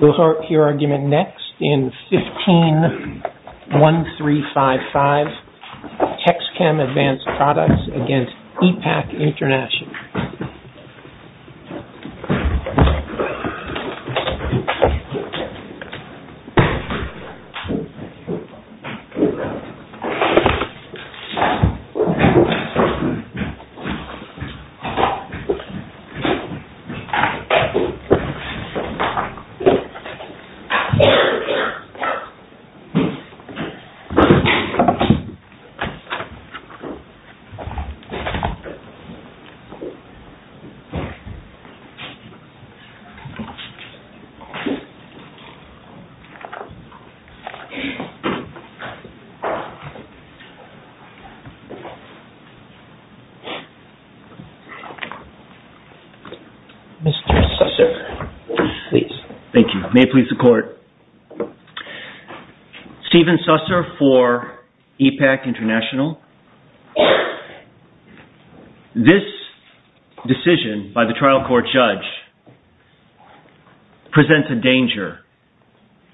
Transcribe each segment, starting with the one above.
We'll hear your argument next in 15-1355, Texchem Advanced Products against E.pak International. Mr. Assessor, please. Thank you. May it please the Court. Stephen Susser for E.pak International. This decision by the trial court judge presents a danger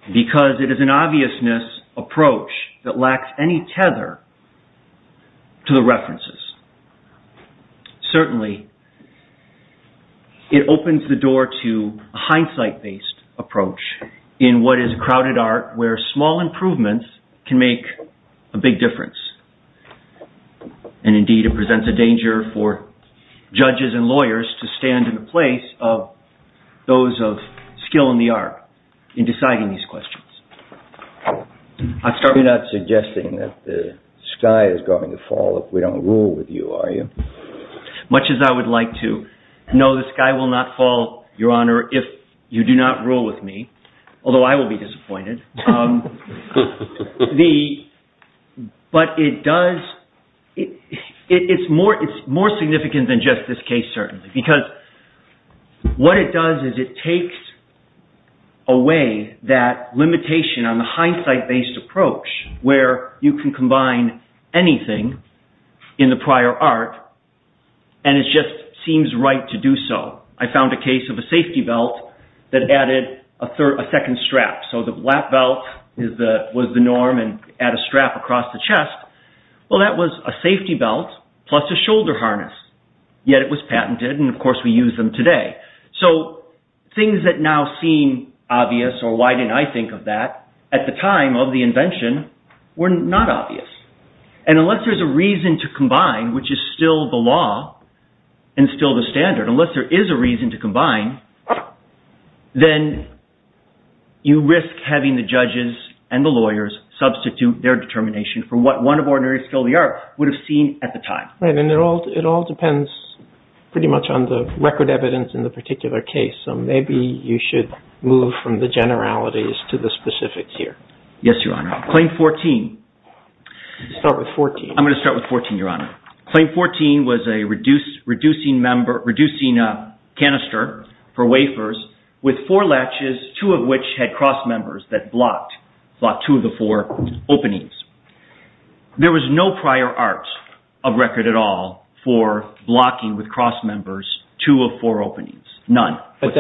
because it is an obviousness approach that lacks any tether to the references. Certainly, it opens the door to a hindsight-based approach in what is crowded art where small improvements can make a big difference. Indeed, it presents a danger for judges and lawyers to stand in the place of those of skill in the art in deciding these questions. I'm not suggesting that the sky is going to fall if we don't rule with you, are you? Much as I would like to. No, the sky will not fall, Your Honor, if you do not rule with me, although I will be disappointed. It's more significant than just this case, certainly, because what it does is it takes away that limitation on the hindsight-based approach where you can combine anything in the prior art and it just seems right to do so. I found a case of a safety belt that added a second strap, so the lap belt was the norm and add a strap across the chest. Well, that was a safety belt plus a shoulder harness, yet it was patented and, of course, we use them today. So, things that now seem obvious, or why didn't I think of that, at the time of the invention were not obvious, and unless there's a reason to combine, which is still the law and still the standard, unless there is a reason to combine, then you risk having the judges and the lawyers substitute their determination for what one of ordinary skill in the art would have seen at the time. It all depends pretty much on the record evidence in the particular case, so maybe you should move from the generalities to the specifics here. Yes, Your Honor. Claim 14. Start with 14. I'm going to start with 14, Your Honor. Claim 14 was reducing a canister for wafers with four latches, two of which had cross members that blocked two of the four openings. There was no prior art of record at all for blocking with cross members two of four openings, none. But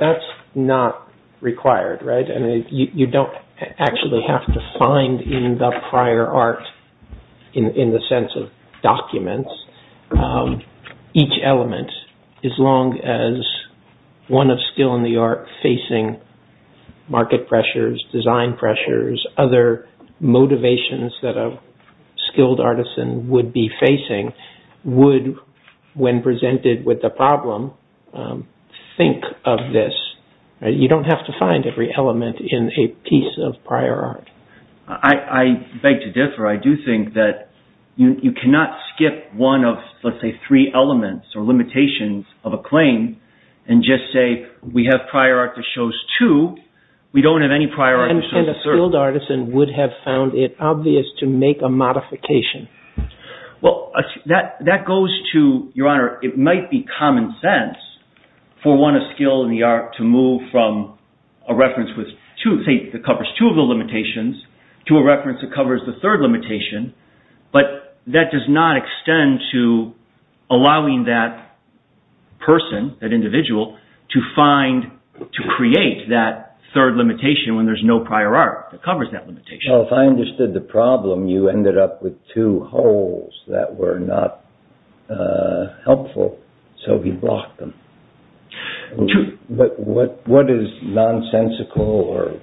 that's not required, right? You don't actually have to find in the prior art, in the sense of documents, each element, as long as one of skill in the art facing market pressures, design pressures, other motivations that a skilled artisan would be facing would, when presented with the problem, think of this. You don't have to find every element in a piece of prior art. I beg to differ. I do think that you cannot skip one of, let's say, three elements or limitations of a claim and just say, we have prior art that shows two. We don't have any prior art that shows a third. And a skilled artisan would have found it obvious to make a modification. Well, that goes to, Your Honor, it might be common sense for one of skill in the art to move from a reference that covers two of the limitations to a reference that covers the third limitation. But that does not extend to allowing that person, that individual, to create that third limitation when there's no prior art that covers that limitation. Well, if I understood the problem, you ended up with two holes that were not helpful, so we blocked them. But what is nonsensical or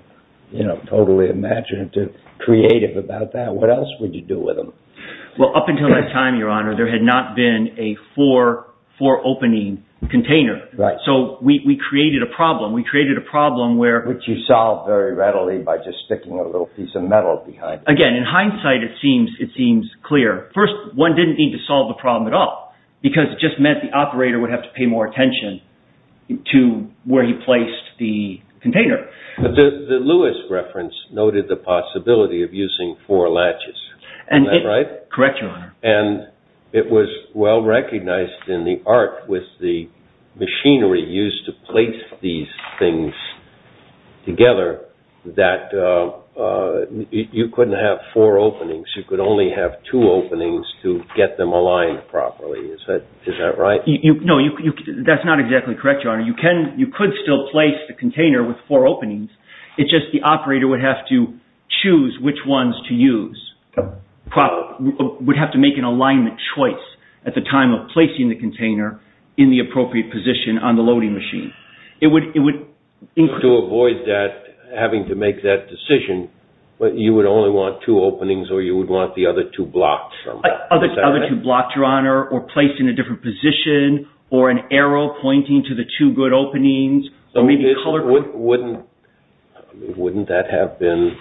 totally imaginative, creative about that? What else would you do with them? Well, up until that time, Your Honor, there had not been a four-opening container. Right. So we created a problem. Which you solved very readily by just sticking a little piece of metal behind it. Again, in hindsight, it seems clear. First, one didn't need to solve the problem at all, because it just meant the operator would have to pay more attention to where he placed the container. The Lewis reference noted the possibility of using four latches. Is that right? Correct, Your Honor. And it was well recognized in the art with the machinery used to place these things together that you couldn't have four openings. You could only have two openings to get them aligned properly. Is that right? No, that's not exactly correct, Your Honor. You could still place the container with four openings. It's just the operator would have to choose which ones to use. Would have to make an alignment choice at the time of placing the container in the appropriate position on the loading machine. To avoid having to make that decision, you would only want two openings or you would want the other two blocked? Other two blocked, Your Honor, or placed in a different position, or an arrow pointing to the two good openings. Wouldn't that have been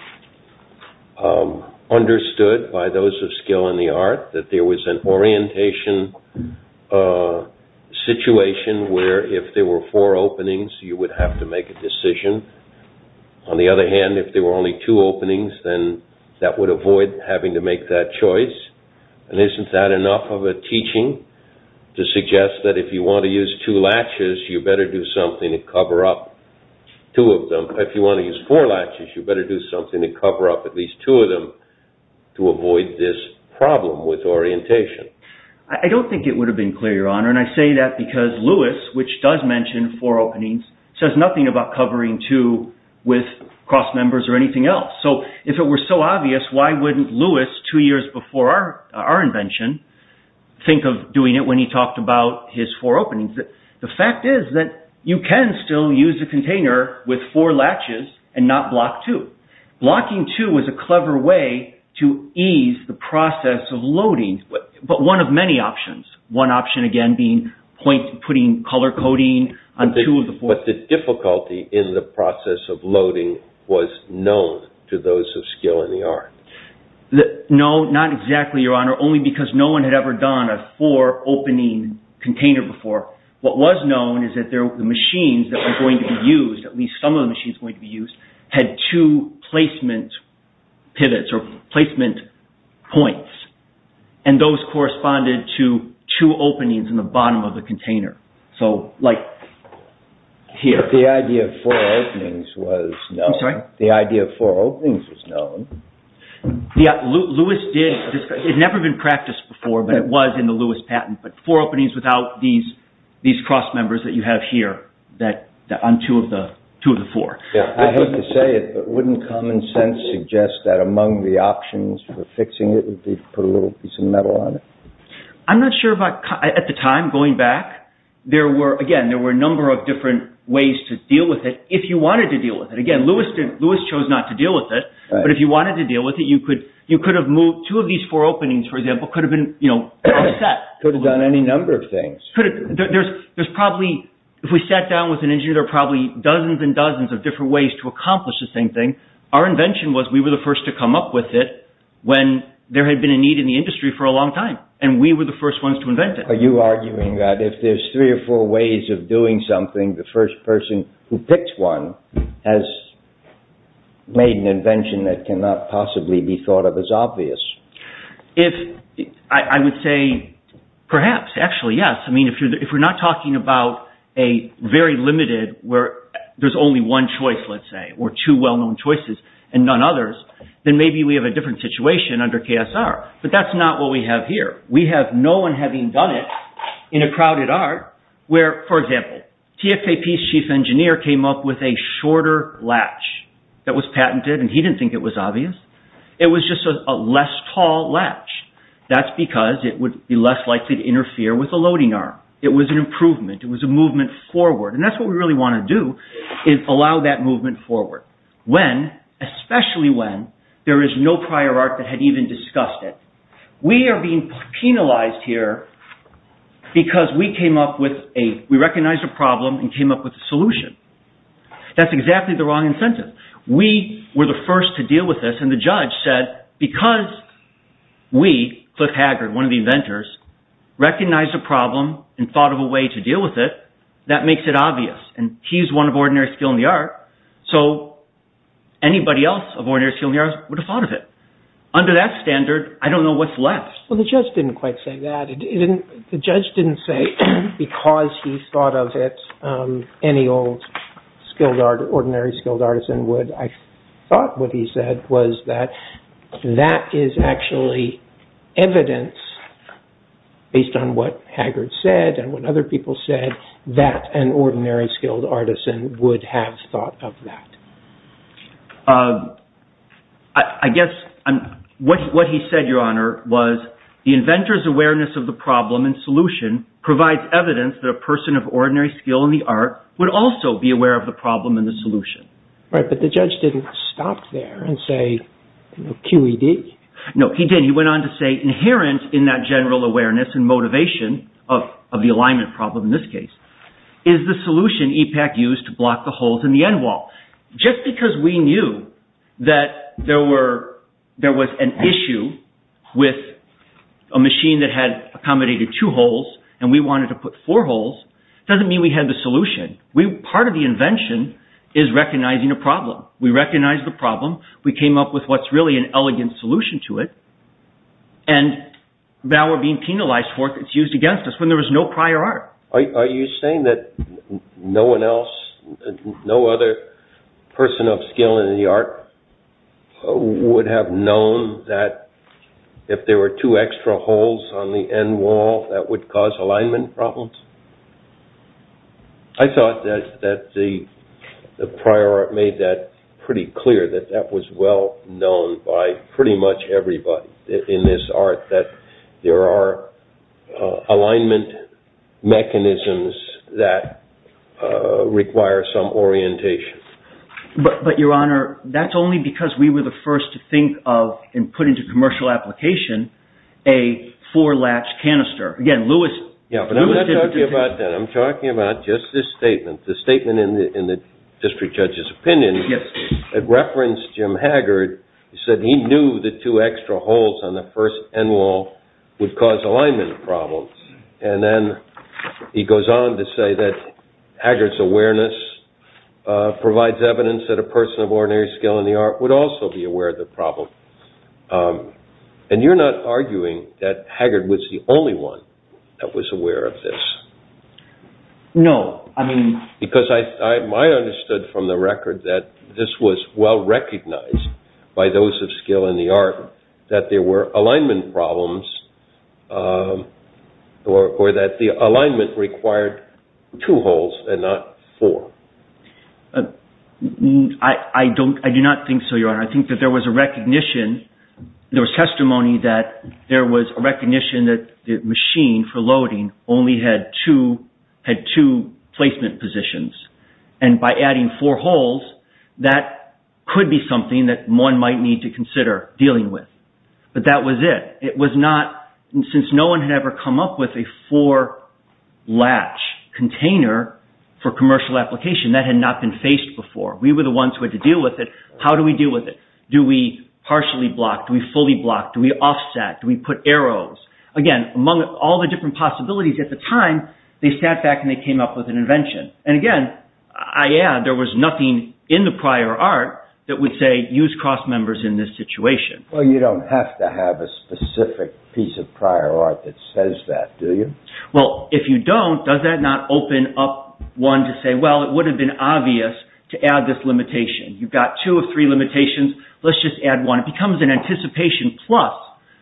understood by those of skill in the art, that there was an orientation situation where if there were four openings, you would have to make a decision? On the other hand, if there were only two openings, then that would avoid having to make that choice? Isn't that enough of a teaching to suggest that if you want to use two latches, you better do something to cover up two of them? If you want to use four latches, you better do something to cover up at least two of them to avoid this problem with orientation? I don't think it would have been clear, Your Honor. I say that because Lewis, which does mention four openings, says nothing about covering two with cross members or anything else. If it were so obvious, why wouldn't Lewis, two years before our invention, think of doing it when he talked about his four openings? The fact is that you can still use a container with four latches and not block two. Blocking two is a clever way to ease the process of loading, but one of many options. One option, again, being putting color coding on two of the four. But the difficulty in the process of loading was known to those of skill in the art. No, not exactly, Your Honor, only because no one had ever done a four-opening container before. What was known is that the machines that were going to be used, at least some of the machines going to be used, had two placement pivots or placement points, and those corresponded to two openings in the bottom of the container. The idea of four openings was known. It had never been practiced before, but it was in the Lewis patent, but four openings without these cross members that you have here on two of the four. I hate to say it, but wouldn't common sense suggest that among the options for fixing it would be to put a little piece of metal on it? I'm not sure about at the time, going back. Again, there were a number of different ways to deal with it if you wanted to deal with it. Again, Lewis chose not to deal with it, but if you wanted to deal with it, you could have moved two of these four openings, for example, could have been set. Could have done any number of things. If we sat down with an engineer, there are probably dozens and dozens of different ways to accomplish the same thing. Our invention was we were the first to come up with it when there had been a need in the industry for a long time, and we were the first ones to invent it. Are you arguing that if there's three or four ways of doing something, the first person who picks one has made an invention that cannot possibly be thought of as obvious? I would say perhaps, actually, yes. I mean, if we're not talking about a very limited, where there's only one choice, let's say, or two well-known choices and none others, then maybe we have a different situation under KSR. But that's not what we have here. We have no one having done it in a crowded art where, for example, TFAP's chief engineer came up with a shorter latch that was patented, and he didn't think it was obvious. It was just a less tall latch. That's because it would be less likely to interfere with the loading arm. It was an improvement. It was a movement forward, and that's what we really want to do is allow that movement forward. Especially when there is no prior art that had even discussed it. We are being penalized here because we came up with a, we recognized a problem and came up with a solution. That's exactly the wrong incentive. We were the first to deal with this, and the judge said, because we, Cliff Haggard, one of the inventors, recognized a problem and thought of a way to deal with it, that makes it obvious. He's one of ordinary skill in the art, so anybody else of ordinary skill in the art would have thought of it. Under that standard, I don't know what's left. Well, the judge didn't quite say that. The judge didn't say, because he thought of it, any old ordinary skilled artisan would. I thought what he said was that that is actually evidence, based on what Haggard said and what other people said, that an ordinary skilled artisan would have thought of that. I guess, what he said, Your Honor, was, the inventor's awareness of the problem and solution provides evidence that a person of ordinary skill in the art would also be aware of the problem and the solution. Right, but the judge didn't stop there and say, QED. No, he didn't. He went on to say, inherent in that general awareness and motivation of the alignment problem, in this case, is the solution EPAC used to block the holes in the end wall. Just because we knew that there was an issue with a machine that had accommodated two holes and we wanted to put four holes, doesn't mean we had the solution. Part of the invention is recognizing a problem. We recognize the problem. We came up with what's really an elegant solution to it, and now we're being penalized for it. It's used against us when there was no prior art. Are you saying that no one else, no other person of skill in the art, would have known that if there were two extra holes on the end wall, that would cause alignment problems? I thought that the prior art made that pretty clear, that that was well known by pretty much everybody in this art, that there are alignment mechanisms that require some orientation. But, Your Honor, that's only because we were the first to think of and put into commercial application a four-latch canister. I'm not talking about that. I'm talking about just this statement, the statement in the district judge's opinion. It referenced Jim Haggard. He said he knew the two extra holes on the first end wall would cause alignment problems. And then he goes on to say that Haggard's awareness provides evidence that a person of ordinary skill in the art would also be aware of the problem. And you're not arguing that Haggard was the only one that was aware of this? No. Because I understood from the record that this was well recognized by those of skill in the art, that there were alignment problems or that the alignment required two holes and not four. I do not think so, Your Honor. I think that there was a recognition, there was testimony that there was a recognition that the machine for loading only had two placement positions. And by adding four holes, that could be something that one might need to consider dealing with. But that was it. It was not, since no one had ever come up with a four-latch container for commercial application, that had not been faced before. We were the ones who had to deal with it. How do we deal with it? Do we partially block? Do we fully block? Do we offset? Do we put arrows? Again, among all the different possibilities at the time, they sat back and they came up with an invention. And again, I add, there was nothing in the prior art that would say, use cross members in this situation. Well, you don't have to have a specific piece of prior art that says that, do you? Well, if you don't, does that not open up one to say, well, it would have been obvious to add this limitation. You've got two or three limitations. Let's just add one. It becomes an anticipation plus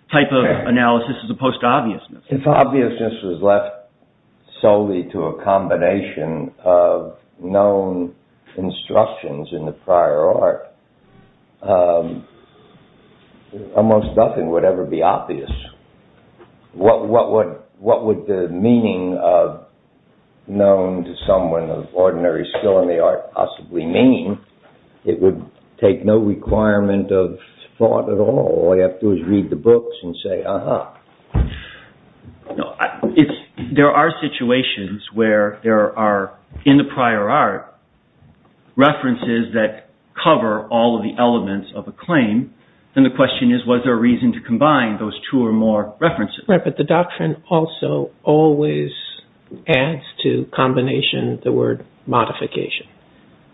type of analysis as opposed to obviousness. If obviousness was left solely to a combination of known instructions in the prior art, almost nothing would ever be obvious. What would the meaning of known to someone of ordinary skill in the art possibly mean? It would take no requirement of thought at all. All you have to do is read the books and say, uh-huh. There are situations where there are, in the prior art, references that cover all of the elements of a claim. Then the question is, was there a reason to combine those two or more references? Right, but the doctrine also always adds to combination the word modification.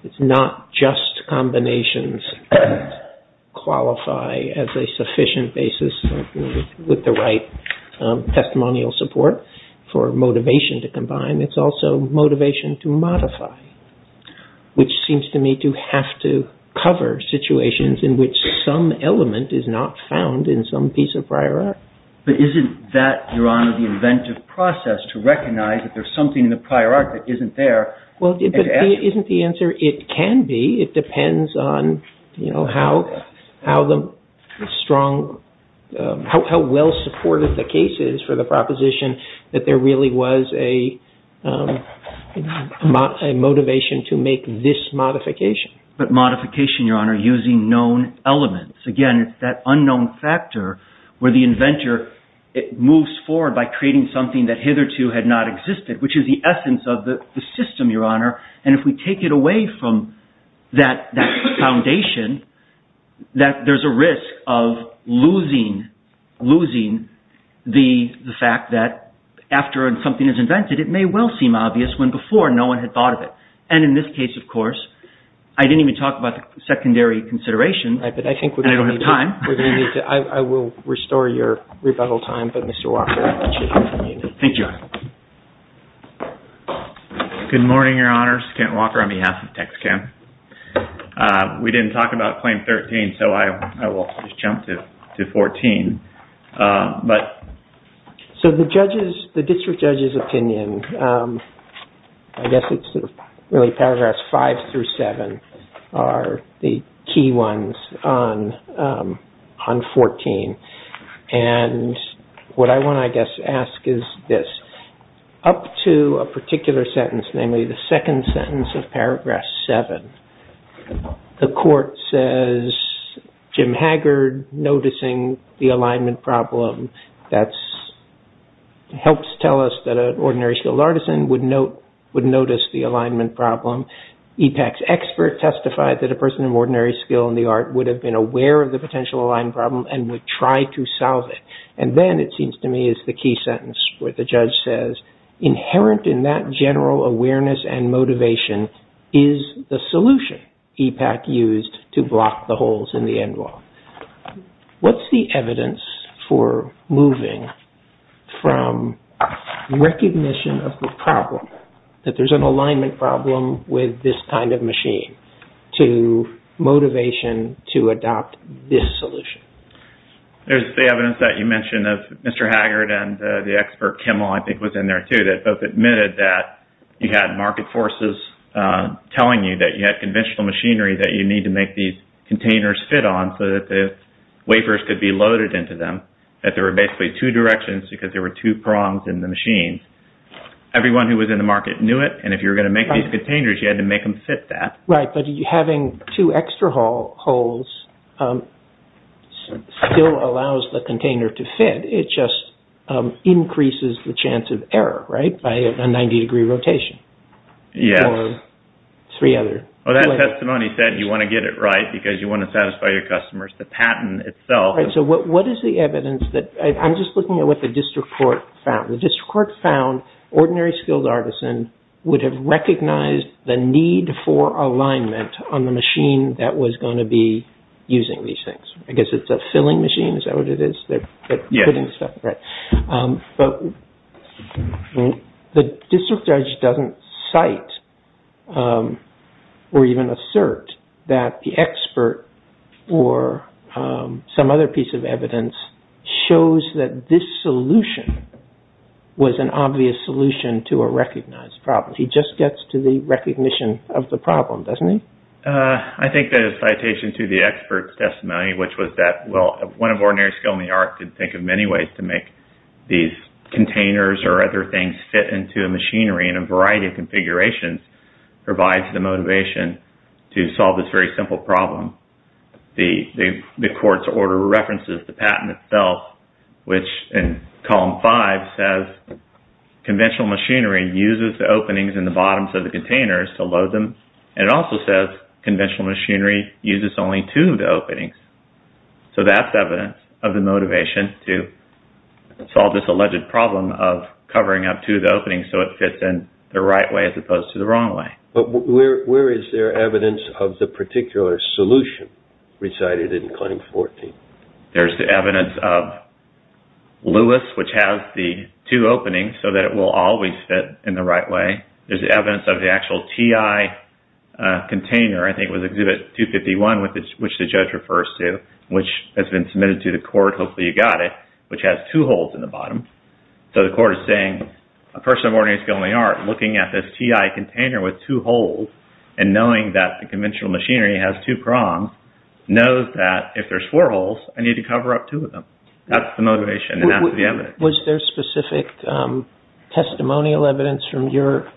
It's not just combinations that qualify as a sufficient basis with the right testimonial support for motivation to combine. It's also motivation to modify, which seems to me to have to cover situations in which some element is not found in some piece of prior art. But isn't that, Your Honor, the inventive process to recognize that there's something in the prior art that isn't there? Well, isn't the answer, it can be. It depends on how well supported the case is for the proposition that there really was a motivation to make this modification. But modification, Your Honor, using known elements. Again, it's that unknown factor where the inventor moves forward by creating something that hitherto had not existed, which is the essence of the system, Your Honor. And if we take it away from that foundation, there's a risk of losing the fact that after something is invented, it may well seem obvious when before no one had thought of it. And in this case, of course, I didn't even talk about the secondary consideration, and I don't have time. I will restore your rebuttal time, but Mr. Walker, I want you to continue. Thank you, Your Honor. Good morning, Your Honors. Kent Walker on behalf of TexCAMP. We didn't talk about Claim 13, so I will just jump to 14. So the district judge's opinion, I guess it's really paragraphs 5 through 7, are the key ones on 14. And what I want to, I guess, ask is this. Up to a particular sentence, namely the second sentence of paragraph 7, the court says Jim Haggard noticing the alignment problem. That helps tell us that an ordinary skilled artisan would notice the alignment problem. EPAC's expert testified that a person of ordinary skill in the art would have been aware of the potential alignment problem and would try to solve it. And then, it seems to me, is the key sentence where the judge says, inherent in that general awareness and motivation is the solution EPAC used to block the holes in the end law. What's the evidence for moving from recognition of the problem, that there's an alignment problem with this kind of machine, to motivation to adopt this solution? There's the evidence that you mentioned of Mr. Haggard and the expert Kimmel, I think was in there too, that both admitted that you had market forces telling you that you had conventional machinery that you need to make these containers fit on so that the wafers could be loaded into them, that there were basically two directions because there were two prongs in the machine. Everyone who was in the market knew it, and if you were going to make these containers, you had to make them fit that. Right, but having two extra holes still allows the container to fit. It just increases the chance of error, right, by a 90-degree rotation. Yes. Or three other. Well, that testimony said you want to get it right because you want to satisfy your customers. The patent itself... Right, so what is the evidence that... I'm just looking at what the district court found. The district court found ordinary skilled artisan would have recognized the need for alignment on the machine that was going to be using these things. I guess it's a filling machine, is that what it is? Yes. But the district judge doesn't cite or even assert that the expert or some other piece of evidence shows that this solution was an obvious solution to a recognized problem. He just gets to the recognition of the problem, doesn't he? I think the citation to the expert's testimony, which was that, well, one of ordinary skilled in the art could think of many ways to make these containers or other things fit into a machinery in a variety of configurations, provides the motivation to solve this very simple problem. The court's order references the patent itself, which in column five says, conventional machinery uses the openings in the bottoms of the containers to load them. And it also says conventional machinery uses only two of the openings. So that's evidence of the motivation to solve this alleged problem of covering up two of the openings so it fits in the right way as opposed to the wrong way. But where is there evidence of the particular solution recited in claim 14? There's the evidence of Lewis, which has the two openings so that it will always fit in the right way. There's evidence of the actual TI container, I think it was exhibit 251, which the judge refers to, which has been submitted to the court, hopefully you got it, which has two holes in the bottom. So the court is saying, a person of ordinary skill in the art, looking at this TI container with two holes and knowing that the conventional machinery has two prongs, knows that if there's four holes, I need to cover up two of them. That's the motivation and that's the evidence. Was there specific testimonial evidence from your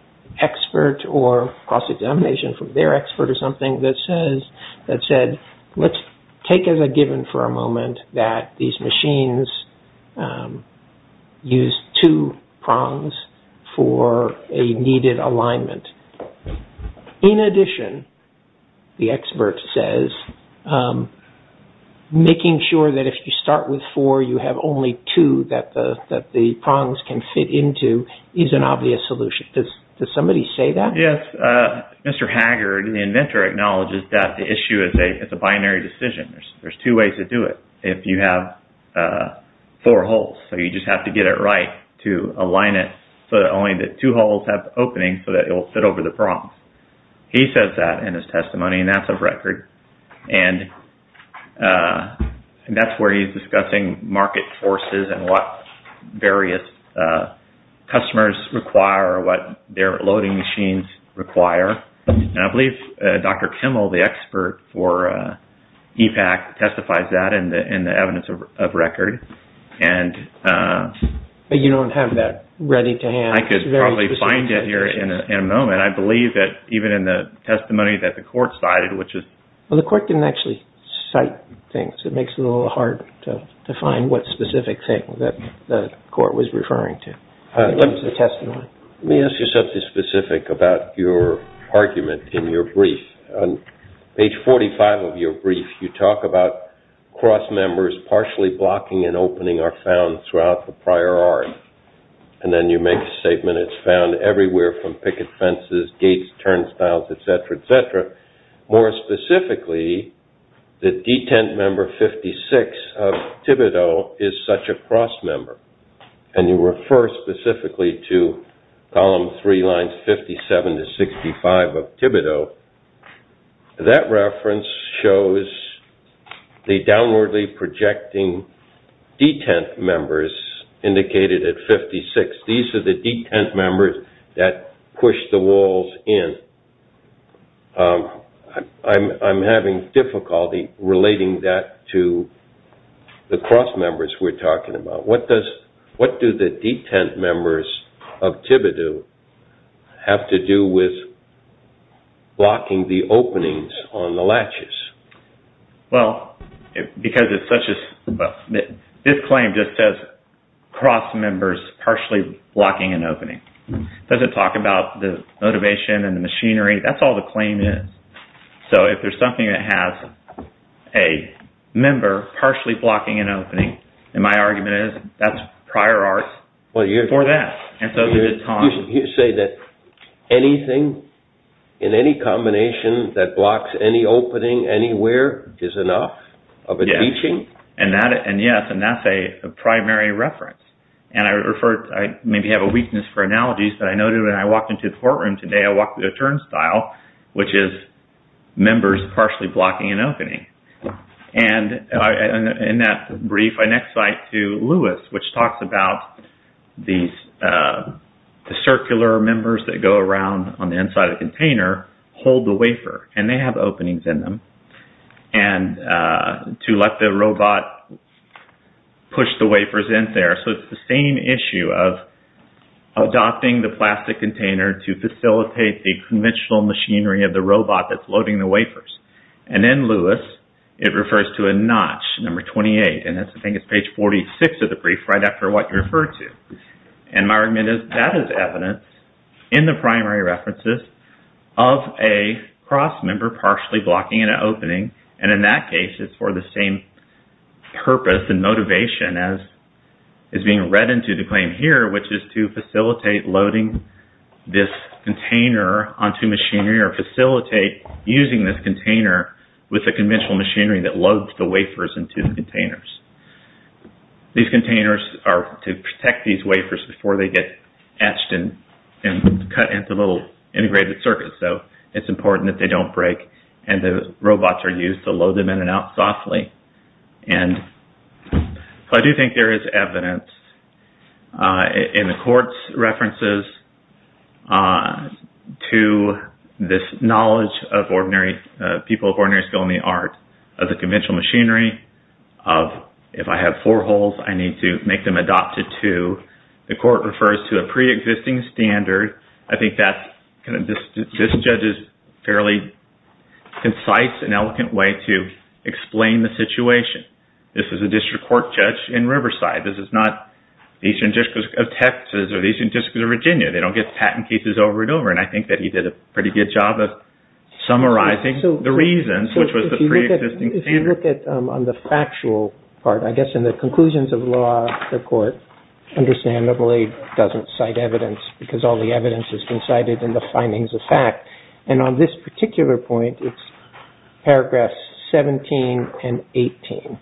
expert or cross-examination from their expert or something that said, let's take as a given for a moment that these machines use two prongs for a needed alignment. In addition, the expert says, making sure that if you start with four, you have only two that the prongs can fit into is an obvious solution. Does somebody say that? Yes. Mr. Haggard, the inventor, acknowledges that the issue is a binary decision. There's two ways to do it if you have four holes. So you just have to get it right to align it so that only the two holes have openings so that it will fit over the prongs. He says that in his testimony and that's a record. That's where he's discussing market forces and what various customers require, what their loading machines require. I believe Dr. Kimmel, the expert for EPAC, testifies that in the evidence of record. But you don't have that ready to hand. I could probably find it here in a moment. I believe that even in the testimony that the court cited, which is... The court didn't actually cite things. It makes it a little hard to find what specific thing that the court was referring to in the testimony. Let me ask you something specific about your argument in your brief. On page 45 of your brief, you talk about cross-members partially blocking an opening are found throughout the prior art. And then you make the statement it's found everywhere from picket fences, gates, turnstiles, et cetera, et cetera. More specifically, the detent member 56 of Thibodeau is such a cross-member. And you refer specifically to column three, lines 57 to 65 of Thibodeau. That reference shows the downwardly projecting detent members indicated at 56. These are the detent members that push the walls in. I'm having difficulty relating that to the cross-members we're talking about. What do the detent members of Thibodeau have to do with blocking the openings on the latches? This claim just says cross-members partially blocking an opening. It doesn't talk about the motivation and the machinery. That's all the claim is. If there's something that has a member partially blocking an opening, my argument is that's prior art for that. You say that anything in any combination that blocks any opening anywhere is enough of a teaching? Yes, and that's a primary reference. I maybe have a weakness for analogies, but I noted when I walked into the courtroom today, I walked with a turnstile, which is members partially blocking an opening. In that brief, I next cite to Lewis, which talks about the circular members that go around on the inside of the container, hold the wafer, and they have openings in them. To let the robot push the wafers in there. It's the same issue of adopting the plastic container to facilitate the conventional machinery of the robot that's loading the wafers. In Lewis, it refers to a notch, number 28. I think it's page 46 of the brief, right after what you referred to. My argument is that is evidence in the primary references of a cross member partially blocking an opening. In that case, it's for the same purpose and motivation as is being read into the claim here, which is to facilitate loading this container onto machinery, or facilitate using this container with the conventional machinery that loads the wafers into the containers. These containers are to protect these wafers before they get etched and cut into little integrated circuits, so it's important that they don't break, and the robots are used to load them in and out softly. I do think there is evidence in the court's references to this knowledge of ordinary people, of ordinary skill in the art of the conventional machinery, of if I have four holes, I need to make them adopted to. The court refers to a pre-existing standard. I think this judge's fairly concise and eloquent way to explain the situation. This is a district court judge in Riverside. This is not the Eastern District of Texas or the Eastern District of Virginia. They don't get patent cases over and over, and I think that he did a pretty good job of summarizing the reasons, which was the pre-existing standard. If you look on the factual part, I guess in the conclusions of law, the court understandably doesn't cite evidence because all the evidence has been cited in the findings of fact. On this particular point, it's paragraphs 17 and 18.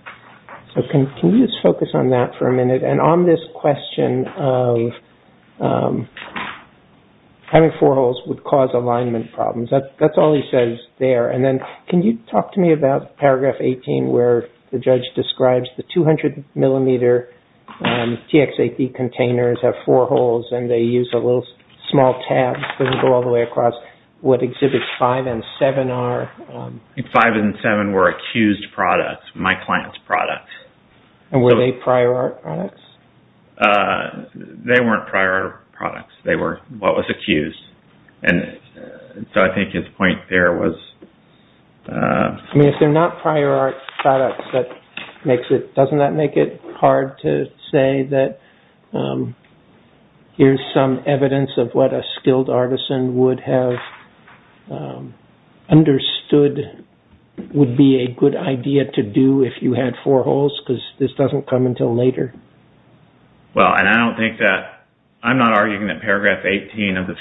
Can you just focus on that for a minute? On this question of having four holes would cause alignment problems, that's all he says there. Then can you talk to me about paragraph 18, where the judge describes the 200-millimeter TXAP containers have four holes, and they use a little small tab, doesn't go all the way across. What exhibits five and seven are? Five and seven were accused products. My client's products. Were they prior art products? They weren't prior art products. They were what was accused. I think his point there was... If they're not prior art products, doesn't that make it hard to say that here's some evidence of what a skilled artisan would have understood would be a good idea to do if you had four holes? Because this doesn't come until later. I'm not arguing that paragraph 18 of the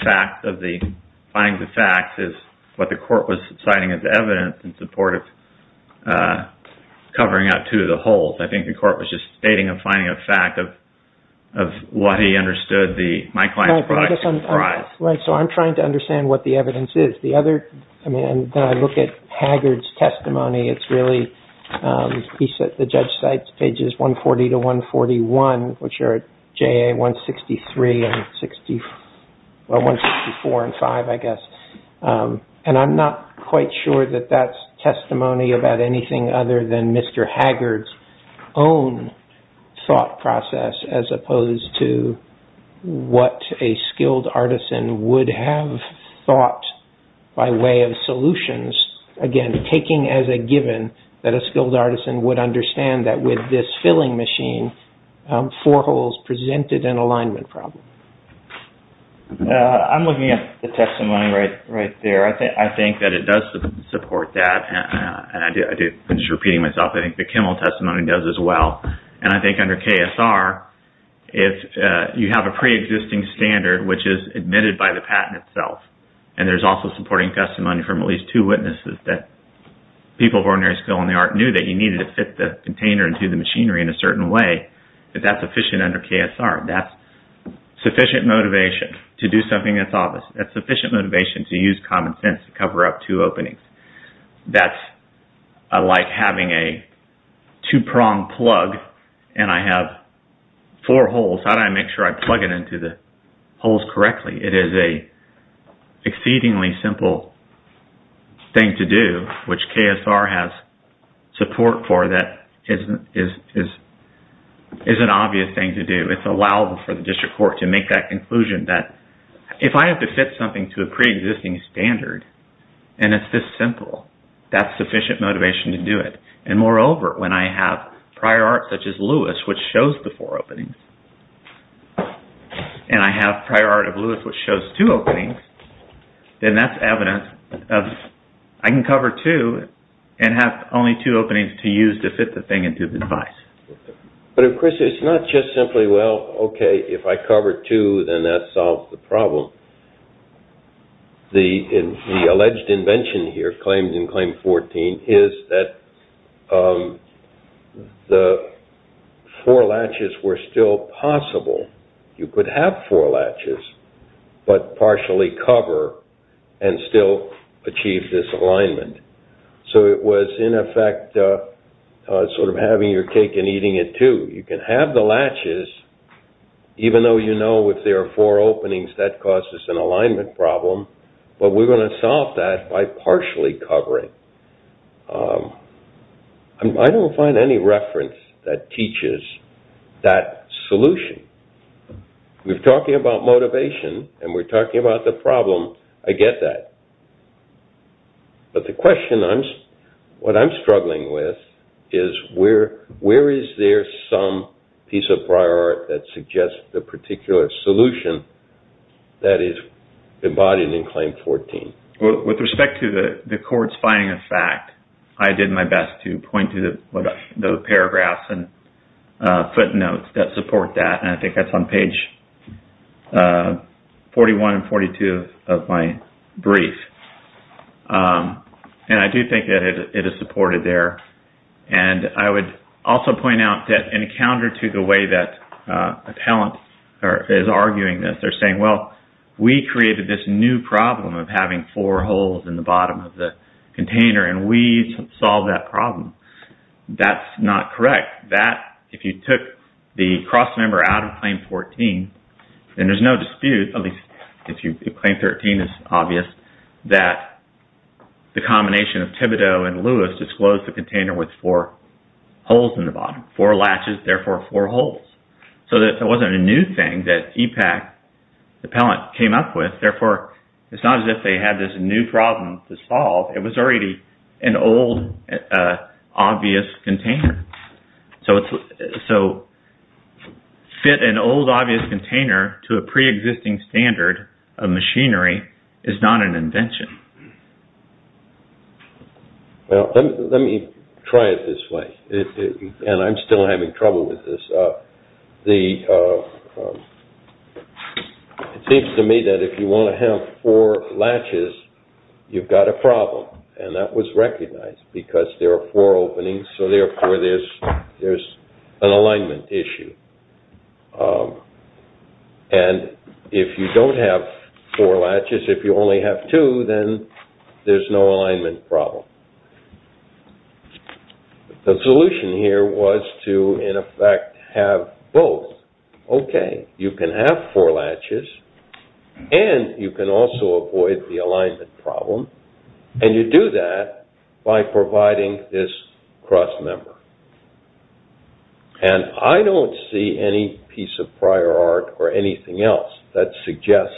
findings of facts is what the court was citing as evidence in support of covering up two of the holes. I think the court was just stating a finding of fact of what he understood my client's products comprised. I'm trying to understand what the evidence is. When I look at Haggard's testimony, it's really... He said the judge cites pages 140 to 141, which are JA 163 and 164 and 5, I guess. I'm not quite sure that that's testimony about anything other than Mr. Haggard's own thought process, as opposed to what a skilled artisan would have thought by way of solutions. Again, taking as a given that a skilled artisan would understand that with this filling machine, four holes presented an alignment problem. I'm looking at the testimony right there. I think that it does support that. I'm just repeating myself. I think the Kimmel testimony does as well. I think under KSR, if you have a preexisting standard, which is admitted by the patent itself, and there's also supporting testimony from at least two witnesses that people of ordinary skill in the art knew that you needed to fit the container into the machinery in a certain way, that's sufficient under KSR. That's sufficient motivation to do something that's obvious. That's sufficient motivation to use common sense to cover up two openings. That's like having a two-prong plug and I have four holes. How do I make sure I plug it into the holes correctly? It is an exceedingly simple thing to do, which KSR has support for. That is an obvious thing to do. It's allowable for the district court to make that conclusion that if I have to fit something to a preexisting standard and it's this simple, that's sufficient motivation to do it. Moreover, when I have prior art such as Lewis, which shows the four openings, and I have prior art of Lewis, which shows two openings, then that's evidence of I can cover two and have only two openings to use to fit the thing into the device. Of course, it's not just simply, well, okay, if I cover two, then that solves the problem. The alleged invention here, claimed in Claim 14, is that the four latches were still possible. You could have four latches, but partially cover and still achieve this alignment. So it was, in effect, sort of having your cake and eating it too. You can have the latches, even though you know if there are four openings, that causes an alignment problem. But we're going to solve that by partially covering. I don't find any reference that teaches that solution. We're talking about motivation and we're talking about the problem. I get that. But the question I'm struggling with is where is there some piece of prior art that suggests the particular solution that is embodied in Claim 14? With respect to the court's finding of fact, I did my best to point to the paragraphs and footnotes that support that. I think that's on page 41 and 42 of my brief. I do think that it is supported there. I would also point out that in counter to the way that a talent is arguing this, they're saying, well, we created this new problem of having four holes in the bottom of the container and we solved that problem. That's not correct. If you took the cross member out of Claim 14, then there's no dispute, at least if Claim 13 is obvious, that the combination of Thibodeau and Lewis disclosed the container with four holes in the bottom. Four latches, therefore, four holes. It wasn't a new thing that EPAC, the appellant, came up with. Therefore, it's not as if they had this new problem to solve. It was already an old, obvious container. So, fit an old, obvious container to a pre-existing standard of machinery is not an invention. Let me try it this way, and I'm still having trouble with this. It seems to me that if you want to have four latches, you've got a problem, and that was recognized because there are four openings, so, therefore, there's an alignment issue. And if you don't have four latches, if you only have two, then there's no alignment problem. The solution here was to, in effect, have both. Okay, you can have four latches, and you can also avoid the alignment problem, and you do that by providing this cross-member. And I don't see any piece of prior art or anything else that suggests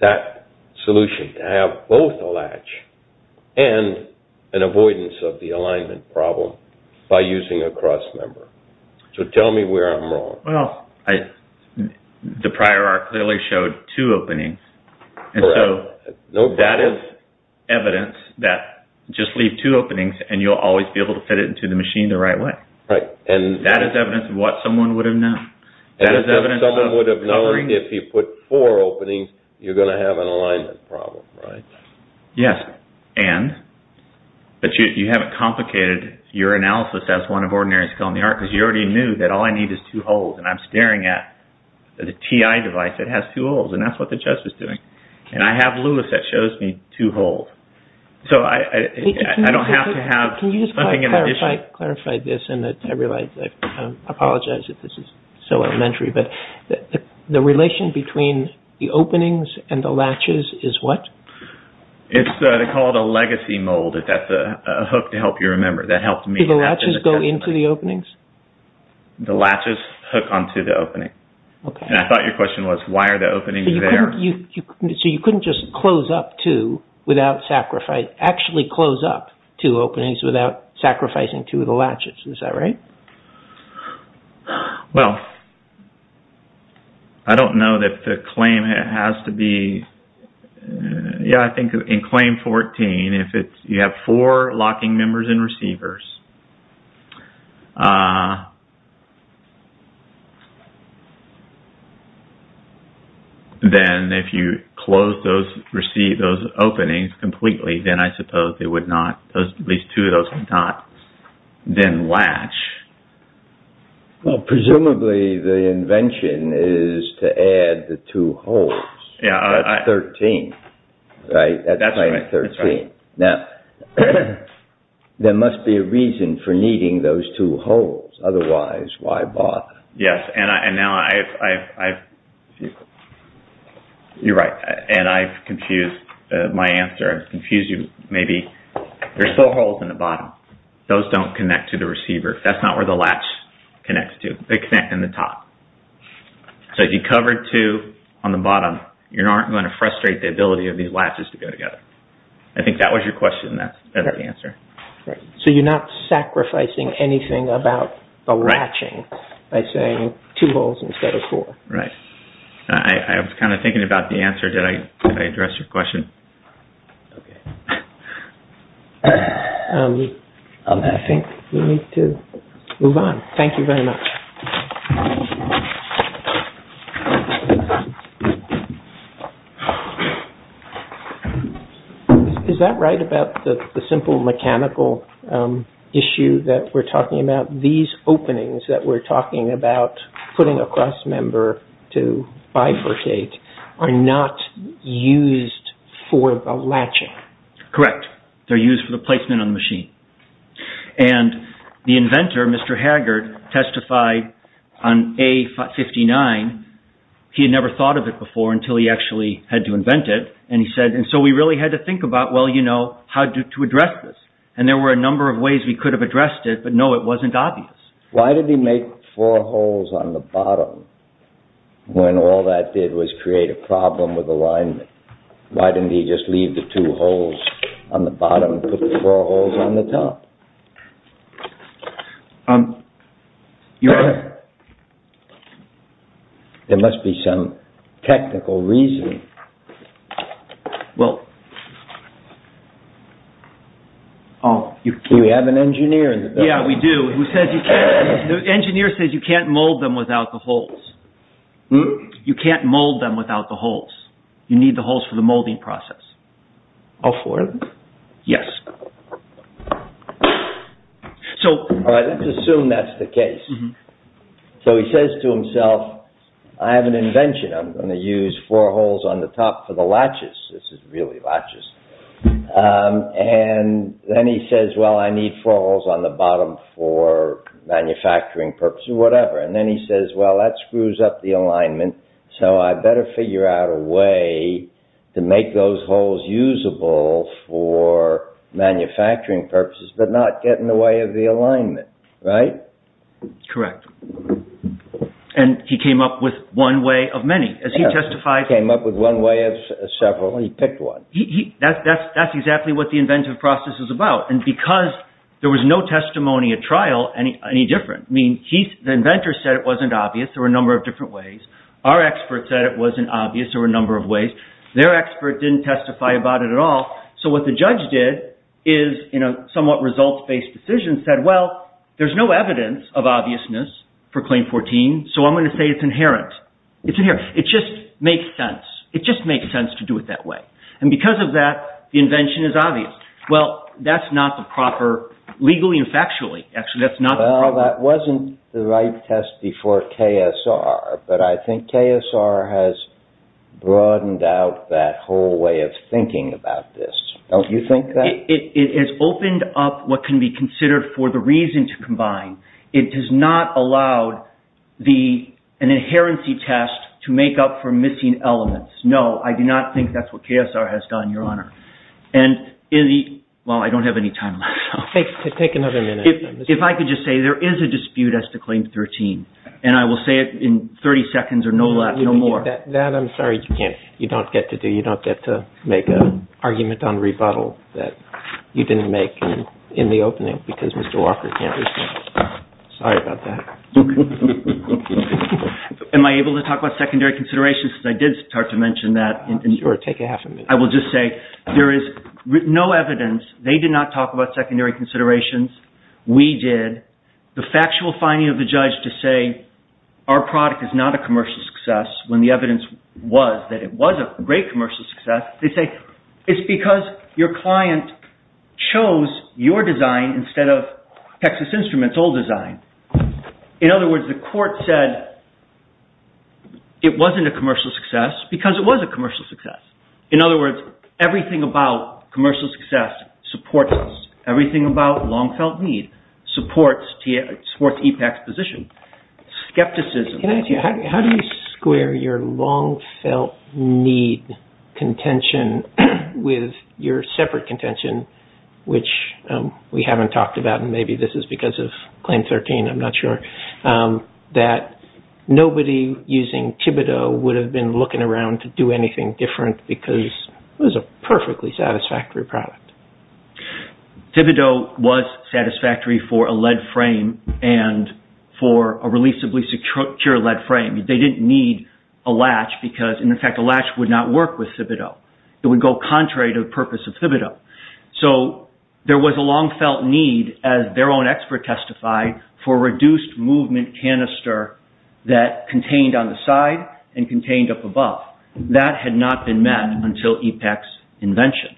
that solution, to have both a latch and an avoidance of the alignment problem by using a cross-member. So, tell me where I'm wrong. Well, the prior art clearly showed two openings. And so, that is evidence that just leave two openings, and you'll always be able to fit it into the machine the right way. That is evidence of what someone would have known. Someone would have known if you put four openings, you're going to have an alignment problem, right? Yes, and, but you haven't complicated your analysis as one of ordinary skill in the art, because you already knew that all I need is two holes, and I'm staring at the TI device that has two holes, and that's what the judge was doing. And I have LULUS that shows me two holes. So, I don't have to have something in addition. Can you just clarify this, and I realize, I apologize if this is so elementary, but the relation between the openings and the latches is what? It's called a legacy mold. That's a hook to help you remember. Do the latches go into the openings? The latches hook onto the opening. Okay. And I thought your question was, why are the openings there? So, you couldn't just close up two without sacrifice, actually close up two openings without sacrificing two of the latches. Is that right? Well, I don't know that the claim has to be, yeah, I think in claim 14, if you have four locking members and receivers, then if you close those openings completely, then I suppose it would not, at least two of those would not then latch. Well, presumably the invention is to add the two holes. Yeah. That's 13, right? That's claim 13. That's right. Now, there must be a reason for needing those two holes. Otherwise, why bother? Yes, and now I've confused. You're right, and I've confused my answer. I've confused you maybe. There's still holes in the bottom. Those don't connect to the receiver. That's not where the latch connects to. They connect in the top. So, if you cover two on the bottom, you aren't going to frustrate the ability of these latches to go together. I think that was your question, and that's the answer. So, you're not sacrificing anything about the latching by saying two holes instead of four. Right. I was kind of thinking about the answer. Did I address your question? Okay. I think we need to move on. Thank you very much. Is that right about the simple mechanical issue that we're talking about? These openings that we're talking about putting a cross member to bifurcate are not used for the latching. Correct. They're used for the placement on the machine. And the inventor, Mr. Haggard, testified on A-59. He had never thought of it before until he actually had to invent it. And he said, and so we really had to think about, well, you know, how to address this. And there were a number of ways we could have addressed it, but, no, it wasn't obvious. Why did he make four holes on the bottom when all that did was create a problem with alignment? Why didn't he just leave the two holes on the bottom and put the four holes on the top? Your Honor. There must be some technical reason. Do we have an engineer in the building? Yeah, we do. The engineer says you can't mold them without the holes. You can't mold them without the holes. You need the holes for the molding process. All four of them? Yes. All right, let's assume that's the case. So he says to himself, I have an invention. I'm going to use four holes on the top for the latches. This is really latches. And then he says, well, I need four holes on the bottom for manufacturing purposes, whatever. And then he says, well, that screws up the alignment, so I better figure out a way to make those holes usable for manufacturing purposes, but not get in the way of the alignment. Right? Correct. And he came up with one way of many. He came up with one way of several. He picked one. That's exactly what the inventive process is about. And because there was no testimony at trial any different, I mean, the inventor said it wasn't obvious. There were a number of different ways. Our expert said it wasn't obvious. There were a number of ways. Their expert didn't testify about it at all. So what the judge did is, in a somewhat results-based decision, said, well, there's no evidence of obviousness for Claim 14, so I'm going to say it's inherent. It's inherent. It just makes sense. It just makes sense to do it that way. And because of that, the invention is obvious. Well, that's not the proper, legally and factually, actually, that's not the proper way. But I think KSR has broadened out that whole way of thinking about this. Don't you think that? It has opened up what can be considered for the reason to combine. It does not allow an inherency test to make up for missing elements. No, I do not think that's what KSR has done, Your Honor. And in the – well, I don't have any time left. Take another minute. If I could just say, there is a dispute as to Claim 13. And I will say it in 30 seconds or no less, no more. That, I'm sorry, you don't get to do. You don't get to make an argument on rebuttal that you didn't make in the opening because Mr. Walker can't respond. Sorry about that. Am I able to talk about secondary considerations? I did start to mention that. Sure, take half a minute. I will just say, there is no evidence. They did not talk about secondary considerations. We did. The factual finding of the judge to say our product is not a commercial success when the evidence was that it was a great commercial success, they say it's because your client chose your design instead of Texas Instruments' old design. In other words, the court said it wasn't a commercial success because it was a commercial success. In other words, everything about commercial success supports us. It supports EPAC's position. Skepticism. How do you square your long-felt need contention with your separate contention, which we haven't talked about and maybe this is because of Claim 13, I'm not sure, that nobody using Thibodeau would have been looking around to do anything different because it was a perfectly satisfactory product? Thibodeau was satisfactory for a lead frame and for a releasably secure lead frame. They didn't need a latch because, in effect, a latch would not work with Thibodeau. It would go contrary to the purpose of Thibodeau. There was a long-felt need, as their own expert testified, for a reduced movement canister that contained on the side and contained up above. That had not been met until EPAC's invention.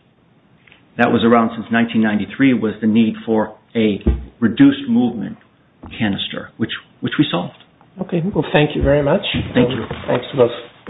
That was around since 1993 was the need for a reduced movement canister, which we solved. Okay. Well, thank you very much. Thank you. Thanks to both.